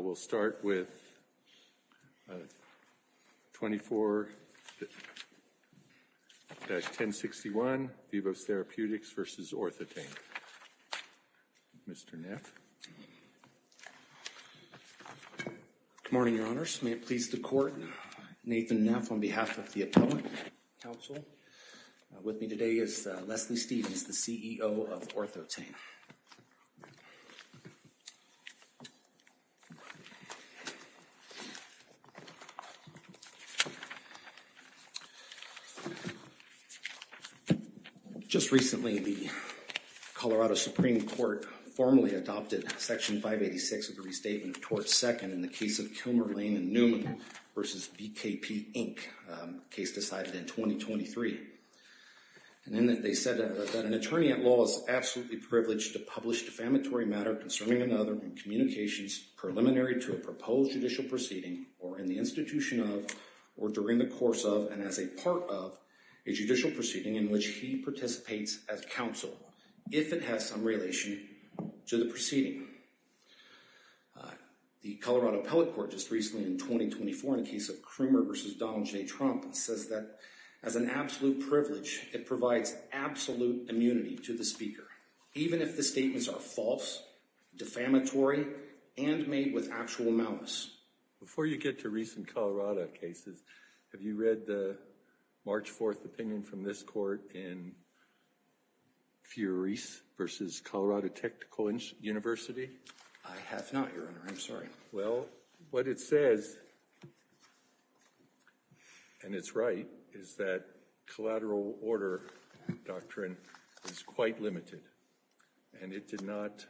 We'll start with 24-1061, Vivos Therapeutics v. Ortho-Tain. Mr. Neff. Good morning, Your Honours. May it please the Court, Nathan Neff on behalf of the Appellate Council. With me today is Leslie Stevens, the CEO of Ortho-Tain. Just recently, the Colorado Supreme Court formally adopted Section 586 of the Restatement of Tort Second in the case of Kilmer, Lane & Newman v. BKP, Inc., case decided in 2023. They said that an attorney at law is absolutely privileged to publish defamatory matter concerning another in communications preliminary to a proposed judicial proceeding, or in the institution of, or during the course of, and as a part of, a judicial proceeding in which he participates as counsel, if it has some relation to the proceeding. The Colorado Appellate Court just recently, in 2024, in the case of Krumer v. Donald J. Trump, says that as an absolute privilege, it provides absolute immunity to the speaker, even if the statements are false, defamatory, and made with actual malice. Before you get to recent Colorado cases, have you read the March 4th opinion from this Court in Fureese v. Colorado Technical University? I have not, Your Honour. I'm sorry. Well, what it says, and it's right, is that collateral order doctrine is quite limited, and it did not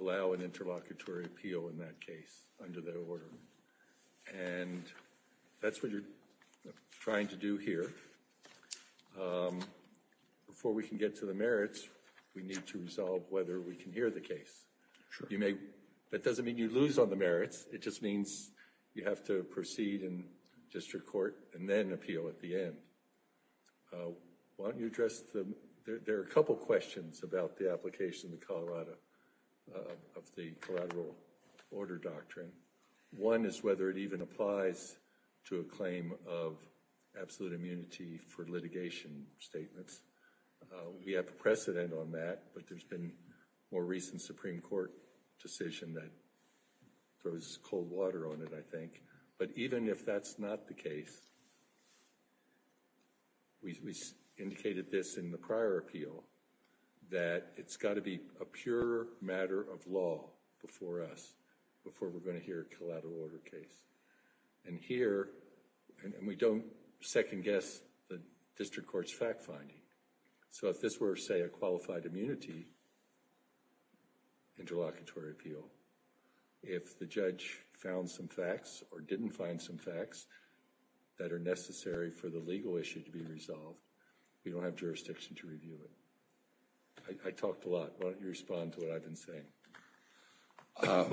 allow an interlocutory appeal in that case under that order. And that's what you're trying to do here. Before we can get to the merits, we need to resolve whether we can hear the case. Sure. That doesn't mean you lose on the merits. It just means you have to proceed in district court and then appeal at the end. Why don't you address the, there are a couple questions about the application in Colorado of the collateral order doctrine. One is whether it even applies to a claim of absolute immunity for litigation statements. We have precedent on that, but there's been more recent Supreme Court decision that throws cold water on it, I think. But even if that's not the case, we indicated this in the prior appeal, that it's got to be a pure matter of law before us, before we're going to hear a collateral order case. And here, and we don't second guess the district court's fact finding. So if this were, say, a qualified immunity interlocutory appeal, if the judge found some facts or didn't find some facts that are necessary for the legal issue to be resolved, we don't have jurisdiction to review it. I talked a lot. Why don't you respond to what I've been saying?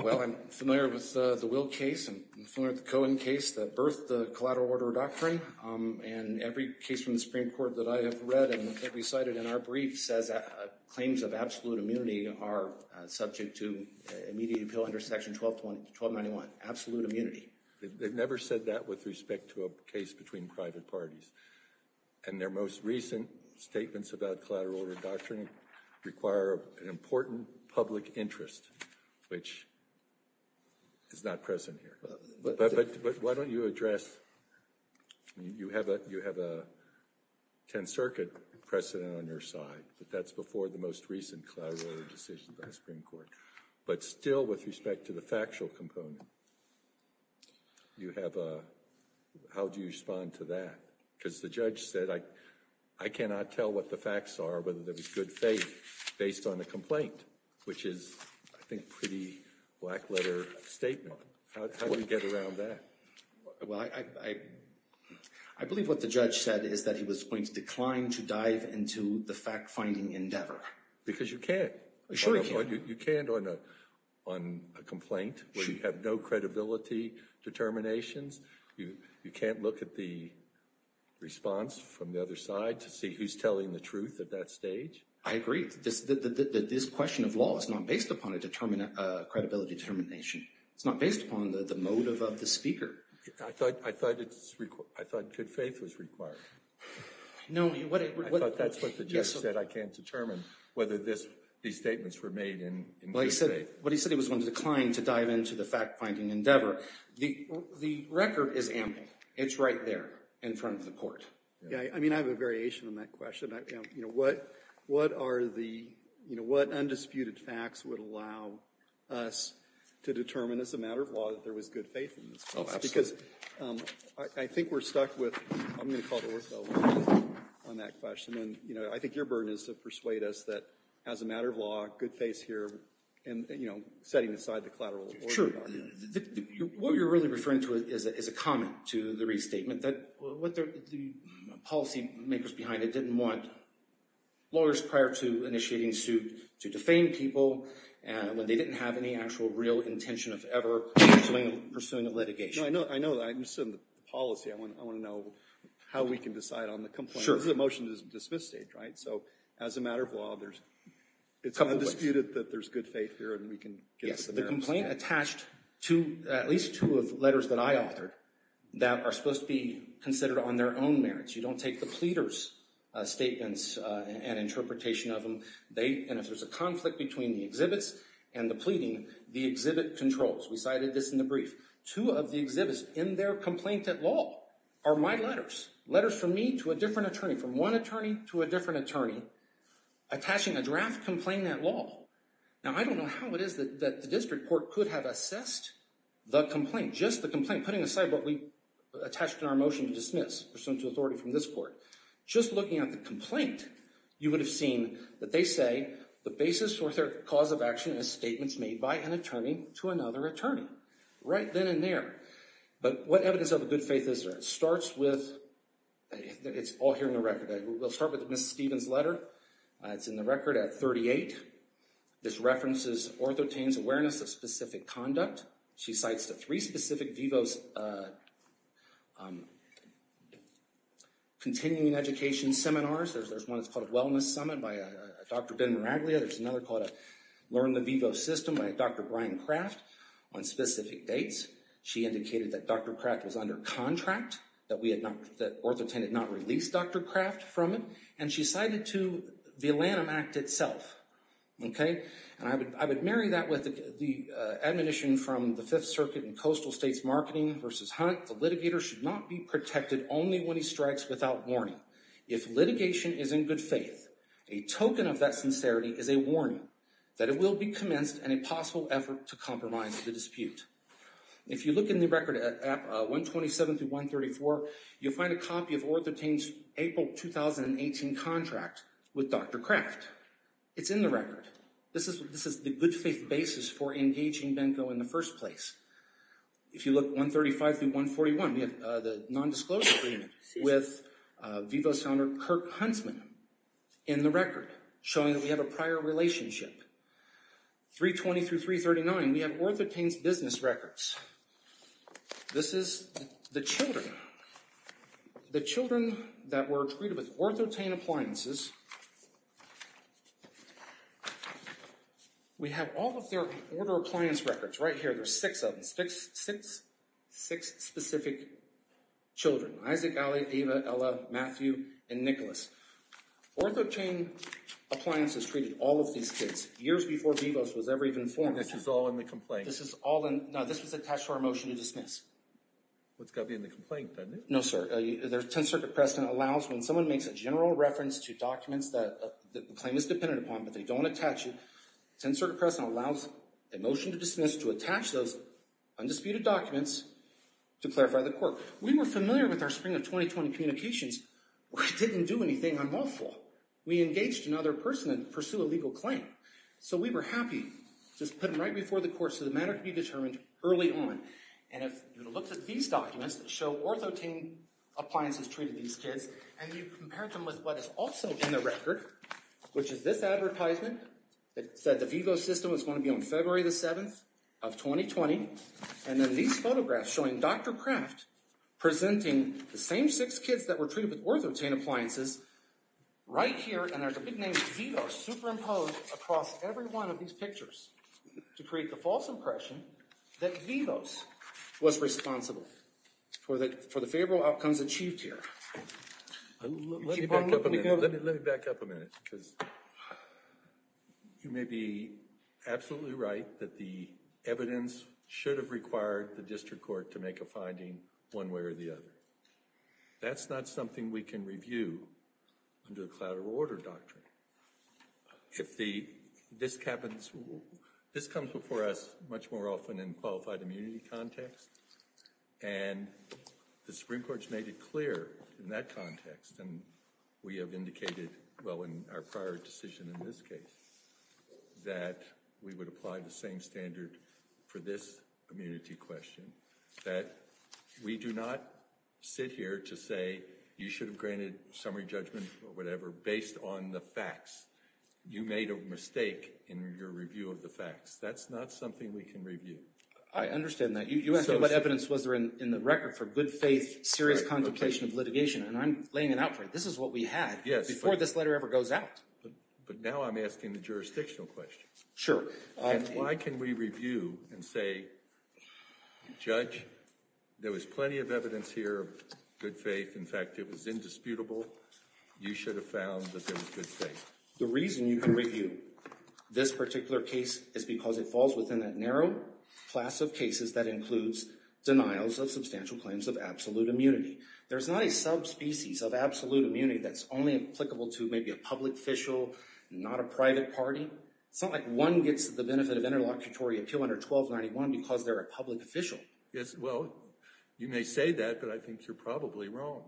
Well, I'm familiar with the Will case and I'm familiar with the Cohen case that birthed the collateral order doctrine. And every case from the Supreme Court that I have read and that we cited in our brief says claims of absolute immunity are subject to immediate appeal under section 1291, absolute immunity. They've never said that with respect to a case between private parties. And their most recent statements about collateral order doctrine require an important public interest, which is not present here. But why don't you address, you have a 10th Circuit precedent on your side, but that's before the most recent collateral order decision by the Supreme Court. But still, with respect to the factual component, you have a, how do you respond to that? Because the judge said, I cannot tell what the facts are, whether there was good faith based on the complaint, which is, I think, a pretty black letter statement. How do we get around that? Well, I believe what the judge said is that he was going to decline to dive into the fact finding endeavor. Because you can't. You can't on a complaint where you have no credibility determinations. You can't look at the response from the other side to see who's telling the truth at that stage. I agree. This question of law is not based upon a credibility determination. It's not based upon the motive of the speaker. I thought good faith was required. I thought that's what the judge said. I can't determine whether these statements were made in good faith. But he said he was going to decline to dive into the fact finding endeavor. The record is ample. It's right there in front of the Court. I mean, I have a variation on that question. You know, what are the, you know, what undisputed facts would allow us to determine as a matter of law that there was good faith in this case? Oh, absolutely. Because I think we're stuck with, I'm going to call to order, though, on that question. And, you know, I think your burden is to persuade us that as a matter of law, good faith's here and, you know, setting aside the collateral order. What you're really referring to is a comment to the restatement that the policymakers behind it didn't want lawyers prior to initiating suit to defame people when they didn't have any actual real intention of ever pursuing a litigation. No, I know that. I understand the policy. I want to know how we can decide on the complaint. Sure. This is a motion to dismiss state, right? So as a matter of law, it's undisputed that there's good faith here and we can get to the merits. Yes, the complaint attached to at least two of the letters that I authored that are supposed to be considered on their own merits. You don't take the pleader's statements and interpretation of them. And if there's a conflict between the exhibits and the pleading, the exhibit controls. We cited this in the brief. Two of the exhibits in their complaint at law are my letters. Letters from me to a different attorney, from one attorney to a different attorney attaching a draft complaint at law. Now, I don't know how it is that the district court could have assessed the complaint, just the complaint, putting aside what we attached in our motion to dismiss pursuant to authority from this court. Just looking at the complaint, you would have seen that they say the basis for their cause of action is statements made by an attorney to another attorney. Right then and there. But what evidence of a good faith is there? It starts with, it's all here in the record. We'll start with Ms. Stevens' letter. It's in the record at 38. This references Orthotain's awareness of specific conduct. She cites the three specific VIVO's continuing education seminars. There's one that's called Wellness Summit by Dr. Ben Miraglia. There's another called Learn the VIVO System by Dr. Brian Kraft. On specific dates, she indicated that Dr. Kraft was under contract, that Orthotain had not released Dr. Kraft from it, and she cited to the ALANIM Act itself. And I would marry that with the admonition from the Fifth Circuit in Coastal States Marketing versus Hunt. The litigator should not be protected only when he strikes without warning. If litigation is in good faith, a token of that sincerity is a warning that it will be commenced and a possible effort to compromise the dispute. If you look in the record at 127-134, you'll find a copy of Orthotain's April 2018 contract with Dr. Kraft. It's in the record. This is the good faith basis for engaging Benko in the first place. If you look at 135-141, we have the non-disclosure agreement with VIVO founder Kirk Huntsman in the record showing that we have a prior relationship. 320-339, we have Orthotain's business records. This is the children. The children that were treated with Orthotain appliances. We have all of their order of appliance records right here. There's six of them. Six specific children. Isaac, Ali, Ava, Ella, Matthew, and Nicholas. Orthotain appliances treated all of these kids years before VIVO was ever even formed. This is all in the complaint? No, this was attached to our motion to dismiss. It's got to be in the complaint, doesn't it? No, sir. The Tenth Circuit precedent allows when someone makes a general reference to documents that the claim is dependent upon but they don't attach it, the Tenth Circuit precedent allows the motion to dismiss to attach those undisputed documents to clarify the court. We were familiar with our spring of 2020 communications. We didn't do anything unlawful. We engaged another person to pursue a legal claim. So we were happy just to put them right before the court so the matter could be determined early on. And if you look at these documents that show Orthotain appliances treated these kids and you compare them with what is also in the record, which is this advertisement that said the VIVO system was going to be on February 7, 2020, and then these photographs showing Dr. Kraft presenting the same six kids that were treated with Orthotain appliances right here, and there's a big name VIVO superimposed across every one of these pictures to create the false impression that VIVO was responsible for the favorable outcomes achieved here. Let me back up a minute. Because you may be absolutely right that the evidence should have required the district court to make a finding one way or the other. That's not something we can review under a collateral order doctrine. This comes before us much more often in qualified immunity context, and the Supreme Court's made it clear in that context, and we have indicated, well, in our prior decision in this case, that we would apply the same standard for this immunity question, that we do not sit here to say you should have granted summary judgment or whatever based on the facts. You made a mistake in your review of the facts. That's not something we can review. I understand that. You asked me what evidence was there in the record for good faith, serious contemplation of litigation, and I'm laying it out for you. This is what we had before this letter ever goes out. But now I'm asking the jurisdictional question. Why can we review and say, Judge, there was plenty of evidence here of good faith. In fact, it was indisputable. You should have found that there was good faith. The reason you can review this particular case is because it falls within that narrow class of cases that includes denials of substantial claims of absolute immunity. There's not a subspecies of absolute immunity that's only applicable to maybe a public official, not a private party. It's not like one gets the benefit of interlocutory appeal under 1291 because they're a public official. Yes, well, you may say that, but I think you're probably wrong.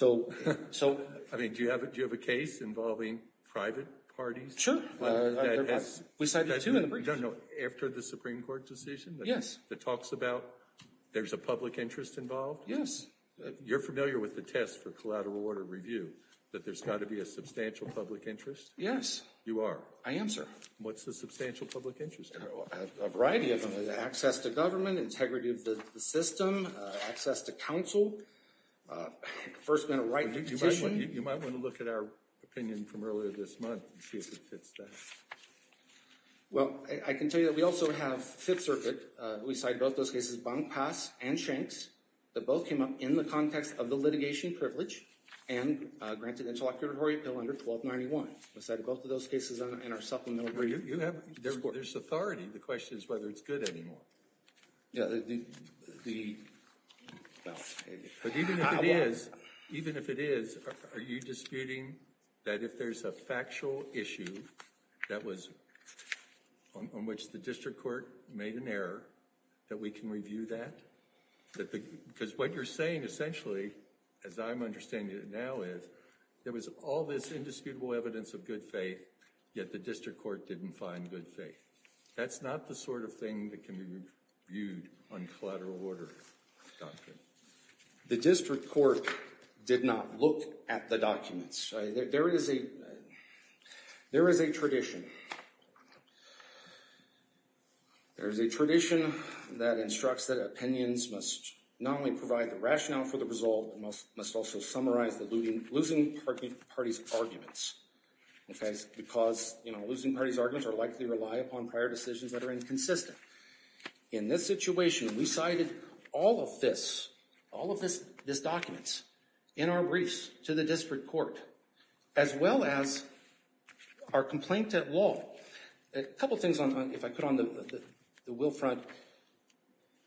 I mean, do you have a case involving private parties? Sure. We cited two in the brief. I don't know, after the Supreme Court decision? Yes. That talks about there's a public interest involved? Yes. You're familiar with the test for collateral order review, that there's got to be a substantial public interest? Yes. You are? I am, sir. What's the substantial public interest? A variety of them. Access to government, integrity of the system, access to counsel, first-minute right to petition. You might want to look at our opinion from earlier this month and see if it fits that. Well, I can tell you that we also have Fifth Circuit. We cited both those cases, Bonk Pass and Shanks, that both came up in the context of the litigation privilege and granted interlocutory appeal under 1291. We cited both of those cases in our supplemental brief. There's authority. The question is whether it's good anymore. Even if it is, are you disputing that if there's a factual issue that was on which the district court made an error, that we can review that? Because what you're saying essentially, as I'm understanding it now is, there was all this indisputable evidence of good faith, yet the district court didn't find good faith. That's not the sort of thing that can be reviewed on collateral order, Dr. The district court did not look at the documents. There is a tradition that instructs that opinions must not only provide the rationale for the result, but must also summarize the losing party's arguments. Because losing party's arguments are likely to rely upon prior decisions that are inconsistent. In this situation, we cited all of this, all of this documents, in our briefs to the district court, as well as our complaint at law. A couple things, if I could, on the will front.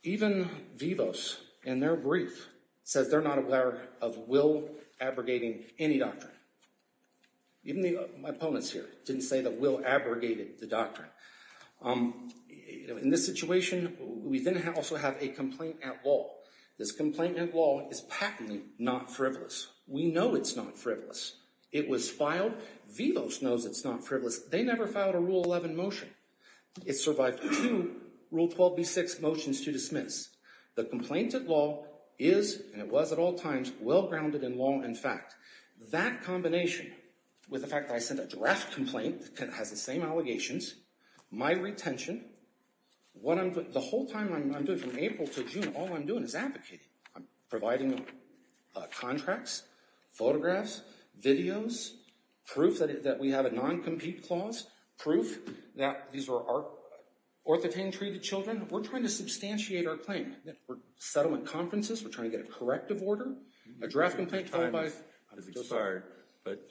Even Vivos, in their brief, says they're not aware of will abrogating any doctrine. Even my opponents here didn't say that will abrogated the doctrine. In this situation, we then also have a complaint at law. This complaint at law is patently not frivolous. We know it's not frivolous. It was filed. Vivos knows it's not frivolous. They never filed a Rule 11 motion. It survived two Rule 12b6 motions to dismiss. The complaint at law is, and it was at all times, well-grounded in law and fact. That combination, with the fact that I sent a draft complaint that has the same allegations, my retention, the whole time I'm doing it, from April to June, all I'm doing is advocating. I'm providing contracts, photographs, videos, proof that we have a non-compete clause, proof that these are orthotain treated children. We're trying to substantiate our claim. We're at settlement conferences. We're trying to get a corrective order. A draft complaint filed by— I'm so sorry, but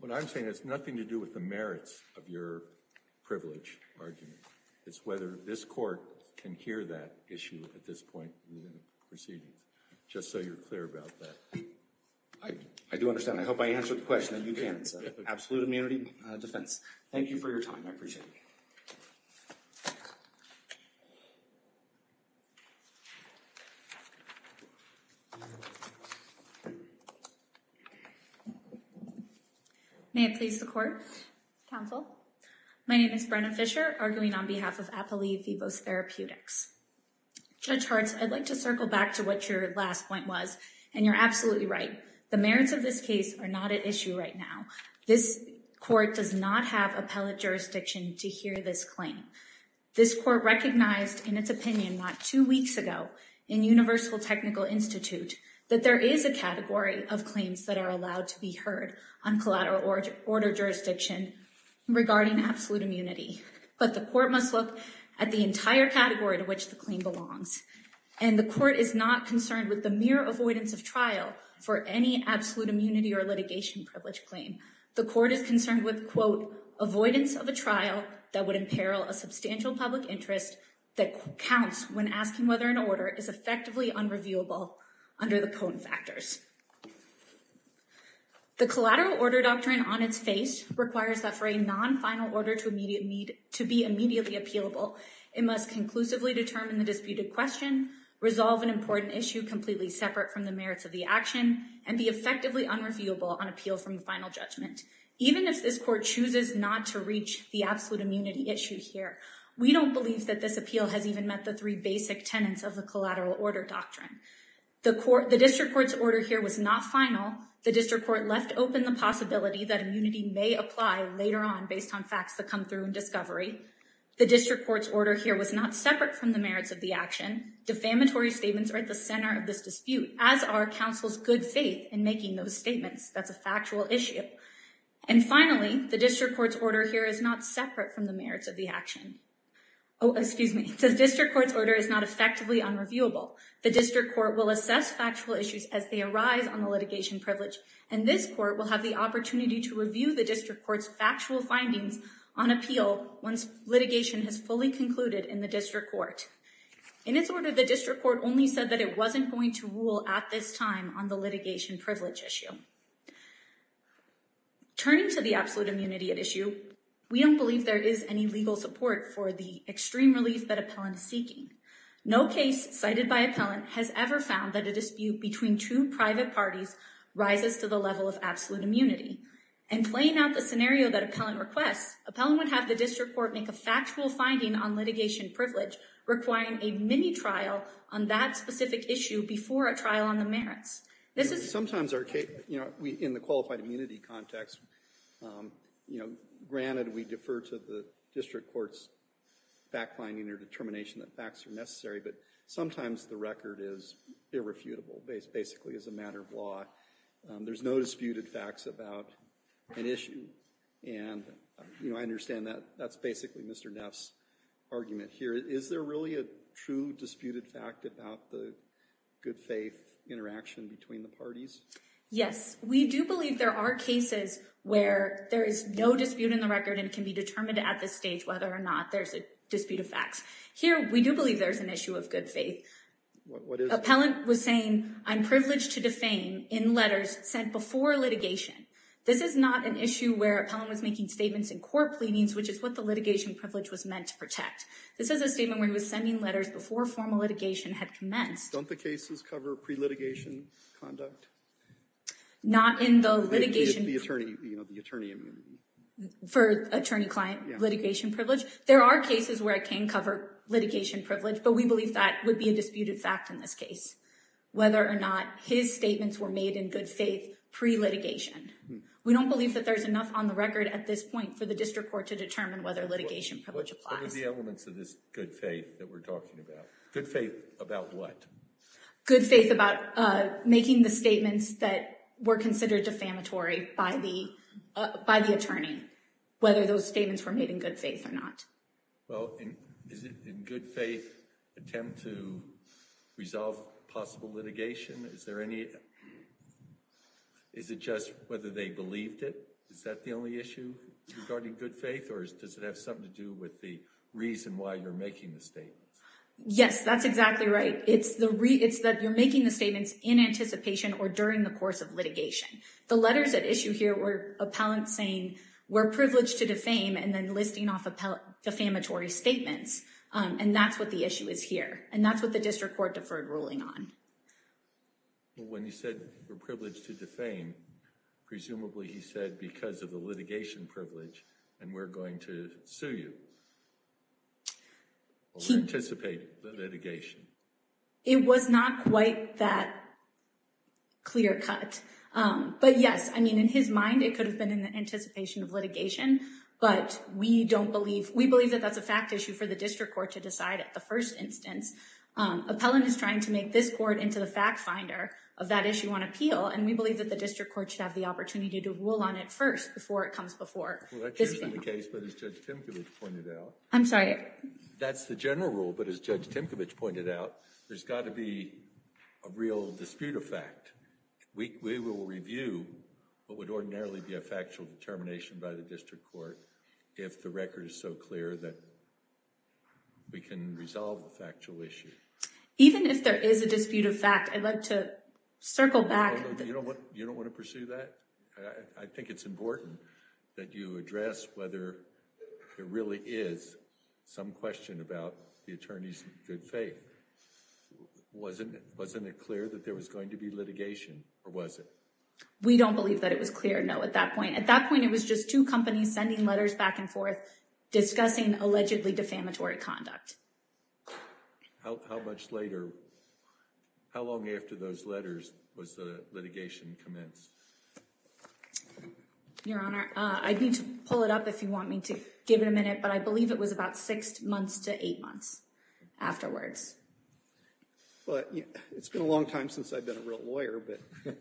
what I'm saying has nothing to do with the merits of your privilege argument. It's whether this court can hear that issue at this point in the proceedings, just so you're clear about that. I do understand. I hope I answered the question. I know you can. It's an absolute immunity defense. Thank you for your time. I appreciate it. May it please the Court, Counsel. My name is Brenna Fisher, arguing on behalf of Apoly Fivos Therapeutics. Judge Hart, I'd like to circle back to what your last point was, and you're absolutely right. The merits of this case are not at issue right now. This court does not have appellate jurisdiction to hear this claim. This court recognized in its opinion not two weeks ago, in Universal Technical Institute, that there is a category of claims that are allowed to be heard on collateral order jurisdiction regarding absolute immunity. But the court must look at the entire category to which the claim belongs. And the court is not concerned with the mere avoidance of trial for any absolute immunity or litigation privilege claim. The court is concerned with, quote, avoidance of a trial that would imperil a substantial public interest that counts when asking whether an order is effectively unreviewable under the cone factors. The collateral order doctrine on its face requires that for a non-final order to be immediately appealable, it must conclusively determine the disputed question, resolve an important issue completely separate from the merits of the action, and be effectively unreviewable on appeal from the final judgment. Even if this court chooses not to reach the absolute immunity issue here, we don't believe that this appeal has even met the three basic tenets of the collateral order doctrine. The district court's order here was not final. The district court left open the possibility that immunity may apply later on based on facts that come through in discovery. The district court's order here was not separate from the merits of the action. Defamatory statements are at the center of this dispute, as are counsel's good faith in making those statements. That's a factual issue. And finally, the district court's order here is not separate from the merits of the action. Oh, excuse me. The district court's order is not effectively unreviewable. The district court will assess factual issues as they arise on the litigation privilege, and this court will have the opportunity to review the district court's factual findings on appeal once litigation has fully concluded in the district court. In its order, the district court only said that it wasn't going to rule at this time on the litigation privilege issue. Turning to the absolute immunity at issue, we don't believe there is any legal support for the extreme relief that appellant is seeking. No case cited by appellant has ever found that a dispute between two private parties rises to the level of absolute immunity. In playing out the scenario that appellant requests, appellant would have the district court make a factual finding on litigation privilege, requiring a mini-trial on that specific issue before a trial on the merits. Sometimes in the qualified immunity context, granted we defer to the district court's fact-finding or determination that facts are necessary, but sometimes the record is irrefutable, basically as a matter of law. There's no disputed facts about an issue, and I understand that's basically Mr. Neff's argument here. But is there really a true disputed fact about the good faith interaction between the parties? Yes. We do believe there are cases where there is no dispute in the record and it can be determined at this stage whether or not there's a dispute of facts. Here, we do believe there's an issue of good faith. What is it? Appellant was saying, I'm privileged to defame in letters sent before litigation. This is not an issue where appellant was making statements in court pleadings, which is what the litigation privilege was meant to protect. This is a statement where he was sending letters before formal litigation had commenced. Don't the cases cover pre-litigation conduct? Not in the litigation. The attorney immunity. For attorney-client litigation privilege. There are cases where it can cover litigation privilege, but we believe that would be a disputed fact in this case, whether or not his statements were made in good faith pre-litigation. We don't believe that there's enough on the record at this point for the district court to determine whether litigation privilege applies. What were the elements of this good faith that we're talking about? Good faith about what? Good faith about making the statements that were considered defamatory by the attorney, whether those statements were made in good faith or not. Well, is it in good faith attempt to resolve possible litigation? Is there any – is it just whether they believed it? Is that the only issue regarding good faith, or does it have something to do with the reason why you're making the statements? Yes, that's exactly right. It's that you're making the statements in anticipation or during the course of litigation. The letters at issue here were appellants saying we're privileged to defame and then listing off defamatory statements, and that's what the issue is here, and that's what the district court deferred ruling on. Well, when you said we're privileged to defame, presumably he said because of the litigation privilege and we're going to sue you. He – Or we're anticipating the litigation. It was not quite that clear cut. But yes, I mean, in his mind it could have been in the anticipation of litigation, but we don't believe – we believe that that's a fact issue for the district court to decide at the first instance. Appellant is trying to make this court into the fact finder of that issue on appeal, and we believe that the district court should have the opportunity to rule on it first before it comes before this panel. Well, that's usually the case, but as Judge Timkovich pointed out – I'm sorry. That's the general rule, but as Judge Timkovich pointed out, there's got to be a real dispute of fact. We will review what would ordinarily be a factual determination by the district court if the record is so clear that we can resolve the factual issue. Even if there is a dispute of fact, I'd like to circle back – You don't want to pursue that? I think it's important that you address whether there really is some question about the attorney's good faith. Wasn't it clear that there was going to be litigation, or was it? We don't believe that it was clear, no, at that point. At that point, it was just two companies sending letters back and forth discussing allegedly defamatory conduct. How much later – how long after those letters was the litigation commenced? Your Honor, I'd need to pull it up if you want me to give it a minute, but I believe it was about six months to eight months afterwards. Well, it's been a long time since I've been a real lawyer, but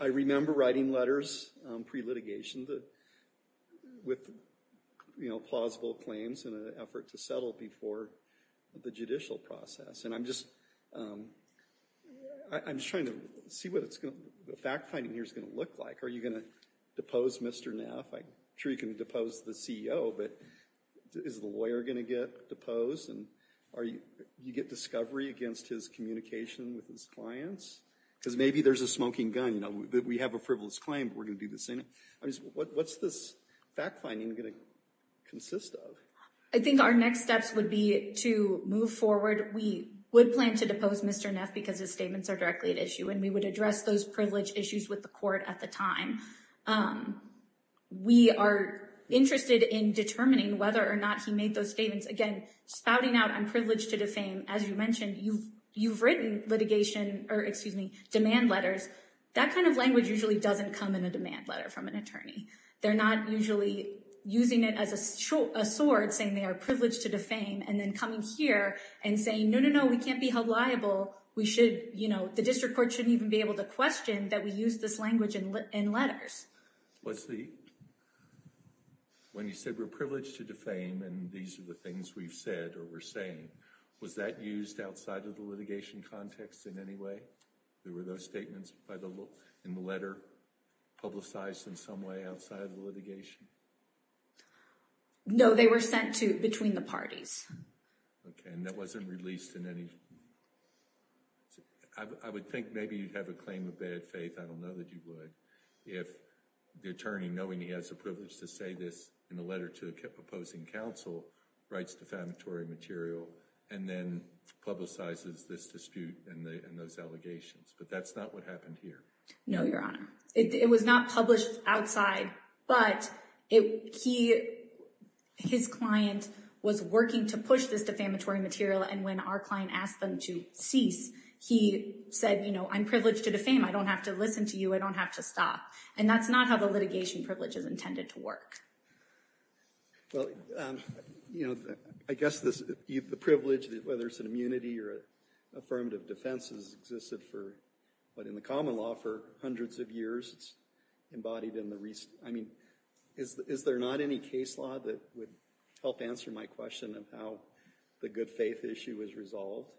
I remember writing letters pre-litigation with plausible claims in an effort to settle before the judicial process. I'm just trying to see what the fact-finding here is going to look like. Are you going to depose Mr. Neff? I'm sure you can depose the CEO, but is the lawyer going to get deposed? Do you get discovery against his communication with his clients? Because maybe there's a smoking gun. We have a frivolous claim, but we're going to do the same thing. What's this fact-finding going to consist of? I think our next steps would be to move forward. We would plan to depose Mr. Neff because his statements are directly at issue, and we would address those privilege issues with the court at the time. We are interested in determining whether or not he made those statements. Again, spouting out, I'm privileged to defame. As you mentioned, you've written litigation – or, excuse me, demand letters. That kind of language usually doesn't come in a demand letter from an attorney. They're not usually using it as a sword, saying they are privileged to defame, and then coming here and saying, no, no, no, we can't be held liable. The district court shouldn't even be able to question that we use this language in letters. When you said we're privileged to defame and these are the things we've said or we're saying, was that used outside of the litigation context in any way? Were those statements in the letter publicized in some way outside of the litigation? No, they were sent between the parties. Okay, and that wasn't released in any – I would think maybe you'd have a claim of bad faith. I don't know that you would. If the attorney, knowing he has the privilege to say this in a letter to a proposing counsel, writes defamatory material and then publicizes this dispute and those allegations. But that's not what happened here. No, Your Honor. It was not published outside, but his client was working to push this defamatory material, and when our client asked them to cease, he said, you know, I'm privileged to defame. I don't have to listen to you. I don't have to stop. And that's not how the litigation privilege is intended to work. Well, you know, I guess the privilege, whether it's an immunity or affirmative defense, has existed in the common law for hundreds of years. It's embodied in the – I mean, is there not any case law that would help answer my question of how the good faith issue is resolved?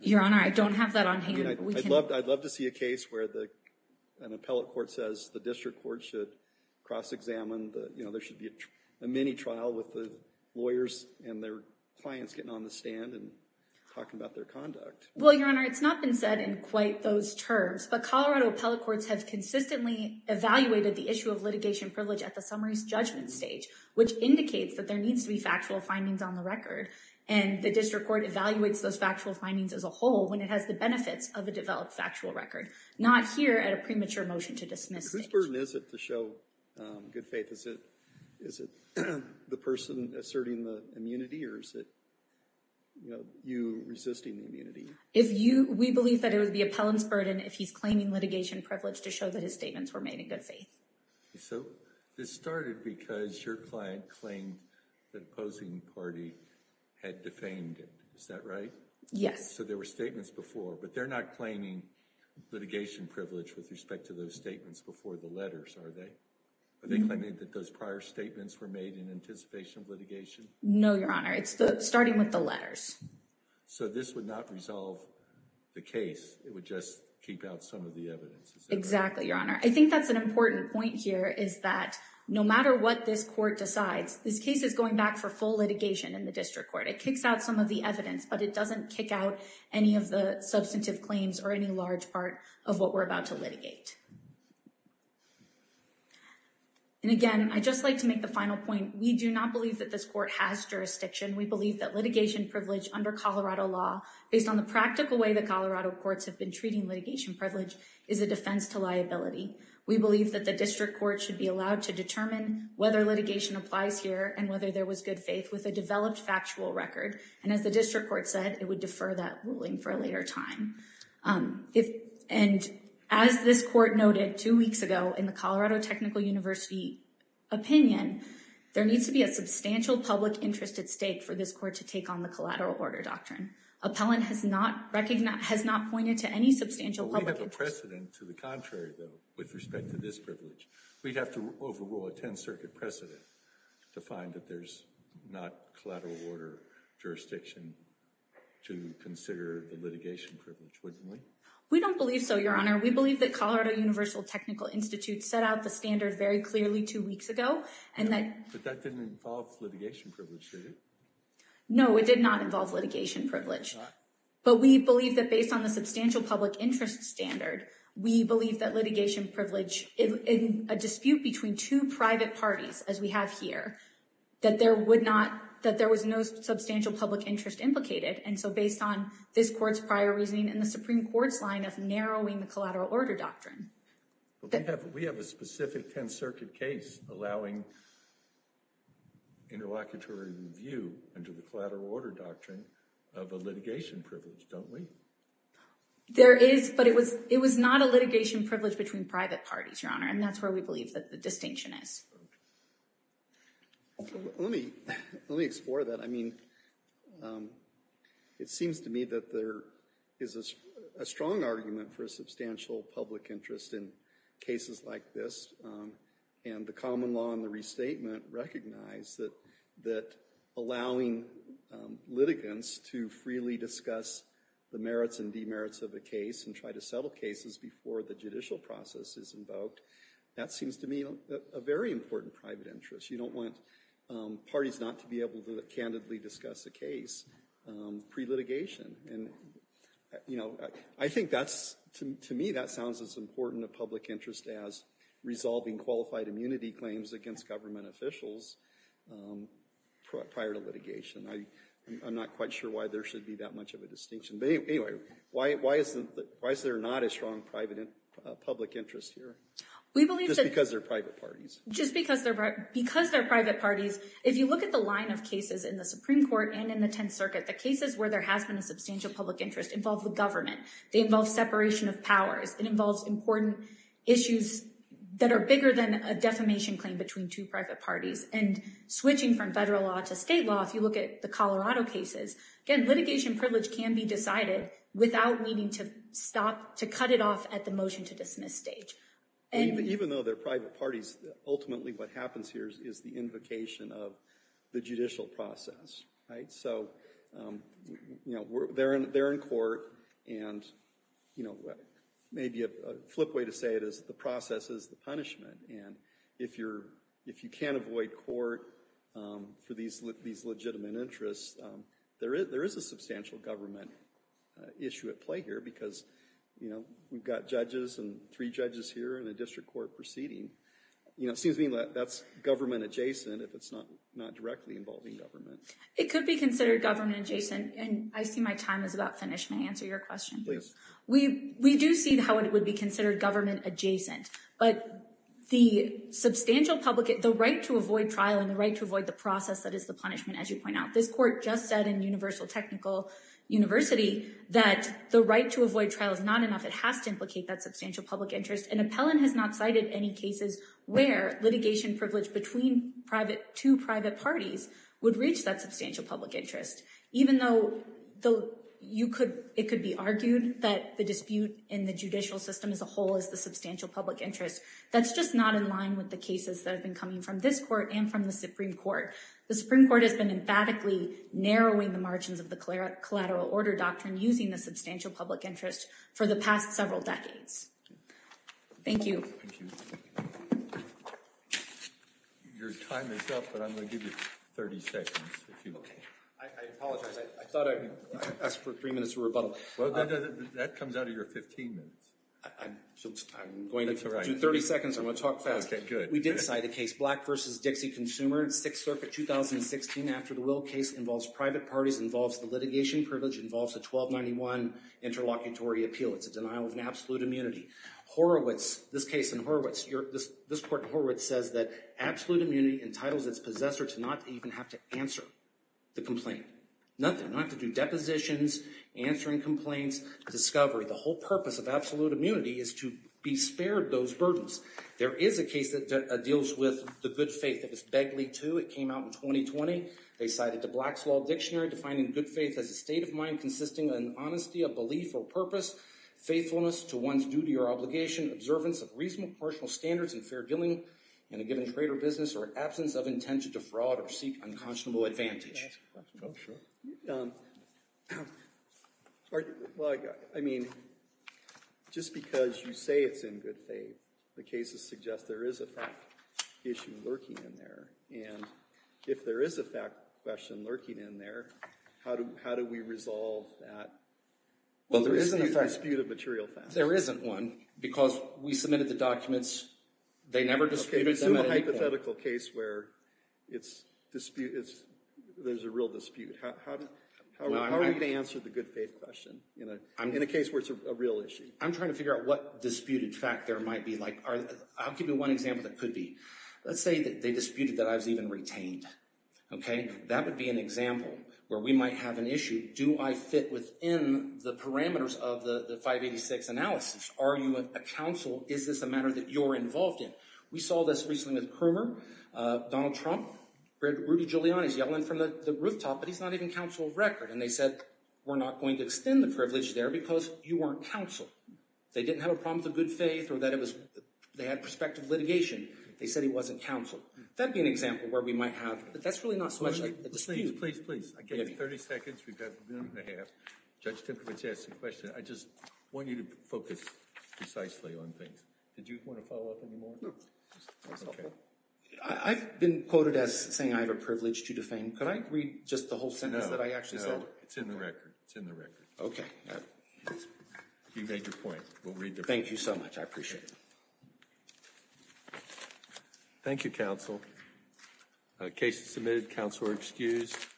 Your Honor, I don't have that on hand. I'd love to see a case where an appellate court says the district court should cross-examine, you know, there should be a mini-trial with the lawyers and their clients getting on the stand and talking about their conduct. Well, Your Honor, it's not been said in quite those terms. But Colorado appellate courts have consistently evaluated the issue of litigation privilege at the summary's judgment stage, which indicates that there needs to be factual findings on the record. And the district court evaluates those factual findings as a whole when it has the benefits of a developed factual record, not here at a premature motion to dismiss. Whose burden is it to show good faith? Is it the person asserting the immunity or is it, you know, you resisting the immunity? If you – we believe that it would be appellant's burden if he's claiming litigation privilege to show that his statements were made in good faith. So this started because your client claimed the opposing party had defamed him. Is that right? Yes. So there were statements before. But they're not claiming litigation privilege with respect to those statements before the letters, are they? Are they claiming that those prior statements were made in anticipation of litigation? No, Your Honor. It's starting with the letters. So this would not resolve the case. It would just keep out some of the evidence. Exactly, Your Honor. I think that's an important point here is that no matter what this court decides, this case is going back for full litigation in the district court. It kicks out some of the evidence, but it doesn't kick out any of the substantive claims or any large part of what we're about to litigate. And, again, I'd just like to make the final point. We do not believe that this court has jurisdiction. We believe that litigation privilege under Colorado law, based on the practical way the Colorado courts have been treating litigation privilege, is a defense to liability. We believe that the district court should be allowed to determine whether litigation applies here and whether there was good faith with a developed factual record. And as the district court said, it would defer that ruling for a later time. And as this court noted two weeks ago in the Colorado Technical University opinion, there needs to be a substantial public interest at stake for this court to take on the collateral order doctrine. Appellant has not pointed to any substantial public interest. We have a precedent to the contrary, though, with respect to this privilege. We'd have to overrule a 10th Circuit precedent to find that there's not collateral order jurisdiction to consider the litigation privilege, wouldn't we? We don't believe so, Your Honor. We believe that Colorado Universal Technical Institute set out the standard very clearly two weeks ago. But that didn't involve litigation privilege, did it? No, it did not involve litigation privilege. But we believe that based on the substantial public interest standard, we believe that litigation privilege in a dispute between two private parties, as we have here, that there was no substantial public interest implicated. And so based on this court's prior reasoning and the Supreme Court's line of narrowing the collateral order doctrine. We have a specific 10th Circuit case allowing interlocutory review under the collateral order doctrine of a litigation privilege, don't we? There is, but it was not a litigation privilege between private parties, Your Honor. And that's where we believe that the distinction is. Let me explore that. I mean, it seems to me that there is a strong argument for a substantial public interest in cases like this. And the common law and the restatement recognize that allowing litigants to freely discuss the merits and demerits of a case and try to settle cases before the judicial process is invoked, that seems to me a very important private interest. You don't want parties not to be able to candidly discuss a case pre-litigation. And, you know, I think that's, to me, that sounds as important a public interest as resolving qualified immunity claims against government officials prior to litigation. I'm not quite sure why there should be that much of a distinction. But anyway, why is there not a strong public interest here? We believe that... Just because they're private parties. Just because they're private parties. If you look at the line of cases in the Supreme Court and in the Tenth Circuit, the cases where there has been a substantial public interest involve the government. They involve separation of powers. It involves important issues that are bigger than a defamation claim between two private parties. And switching from federal law to state law, if you look at the Colorado cases, again, litigation privilege can be decided without needing to cut it off at the motion-to-dismiss stage. Even though they're private parties, ultimately what happens here is the invocation of the judicial process. So they're in court, and maybe a flip way to say it is the process is the punishment. And if you can't avoid court for these legitimate interests, there is a substantial government issue at play here because we've got judges and three judges here in a district court proceeding. It seems to me that that's government-adjacent if it's not directly involving government. It could be considered government-adjacent. And I see my time is about finished. May I answer your question? Please. We do see how it would be considered government-adjacent. But the right to avoid trial and the right to avoid the process that is the punishment, as you point out, this court just said in Universal Technical University that the right to avoid trial is not enough. It has to implicate that substantial public interest. And Appellant has not cited any cases where litigation privilege between two private parties would reach that substantial public interest. Even though it could be argued that the dispute in the judicial system as a whole is the substantial public interest, that's just not in line with the cases that have been coming from this court and from the Supreme Court. The Supreme Court has been emphatically narrowing the margins of the collateral order doctrine using the substantial public interest for the past several decades. Thank you. Thank you. Your time is up, but I'm going to give you 30 seconds. I apologize. I thought I asked for three minutes of rebuttal. That comes out of your 15 minutes. I'm going to do 30 seconds. I'm going to talk fast. Okay, good. We did cite a case, Black v. Dixie Consumer, Sixth Circuit, 2016. After the Will case involves private parties, involves the litigation privilege, involves a 1291 interlocutory appeal. It's a denial of an absolute immunity. Horowitz, this case in Horowitz, this court in Horowitz says that absolute immunity entitles its possessor to not even have to answer the complaint. Nothing, not to do depositions, answering complaints, discovery. The whole purpose of absolute immunity is to be spared those burdens. There is a case that deals with the good faith. It was Begley II. It came out in 2020. They cited the Black's Law Dictionary, defining good faith as a state of mind consisting of an honesty of belief or purpose, faithfulness to one's duty or obligation, observance of reasonable commercial standards and fair dealing in a given trade or business, or absence of intent to defraud or seek unconscionable advantage. Can I ask a question? Oh, sure. Well, I mean, just because you say it's in good faith, the cases suggest there is a fact issue lurking in there. And if there is a fact question lurking in there, how do we resolve that? Well, there isn't a dispute of material facts. There isn't one because we submitted the documents. They never disputed them at any point. There's a hypothetical case where there's a real dispute. How are we going to answer the good faith question in a case where it's a real issue? I'm trying to figure out what disputed fact there might be. I'll give you one example that could be. Let's say that they disputed that I was even retained. That would be an example where we might have an issue. Do I fit within the parameters of the 586 analysis? Are you a counsel? Is this a matter that you're involved in? We saw this recently with Krumer, Donald Trump, Rudy Giuliani. He's yelling from the rooftop, but he's not even counsel of record. And they said, we're not going to extend the privilege there because you weren't counsel. They didn't have a problem with the good faith or that they had prospective litigation. They said he wasn't counsel. That would be an example where we might have. But that's really not so much a dispute. Please, please, please. I gave you 30 seconds. We've got a minute and a half. Judge Timkovich asked a question. I just want you to focus precisely on things. Did you want to follow up anymore? I've been quoted as saying I have a privilege to defame. Could I read just the whole sentence that I actually said? It's in the record. It's in the record. Okay. You made your point. We'll read the report. Thank you so much. I appreciate it. Thank you, counsel. Case submitted. Counsel are excused.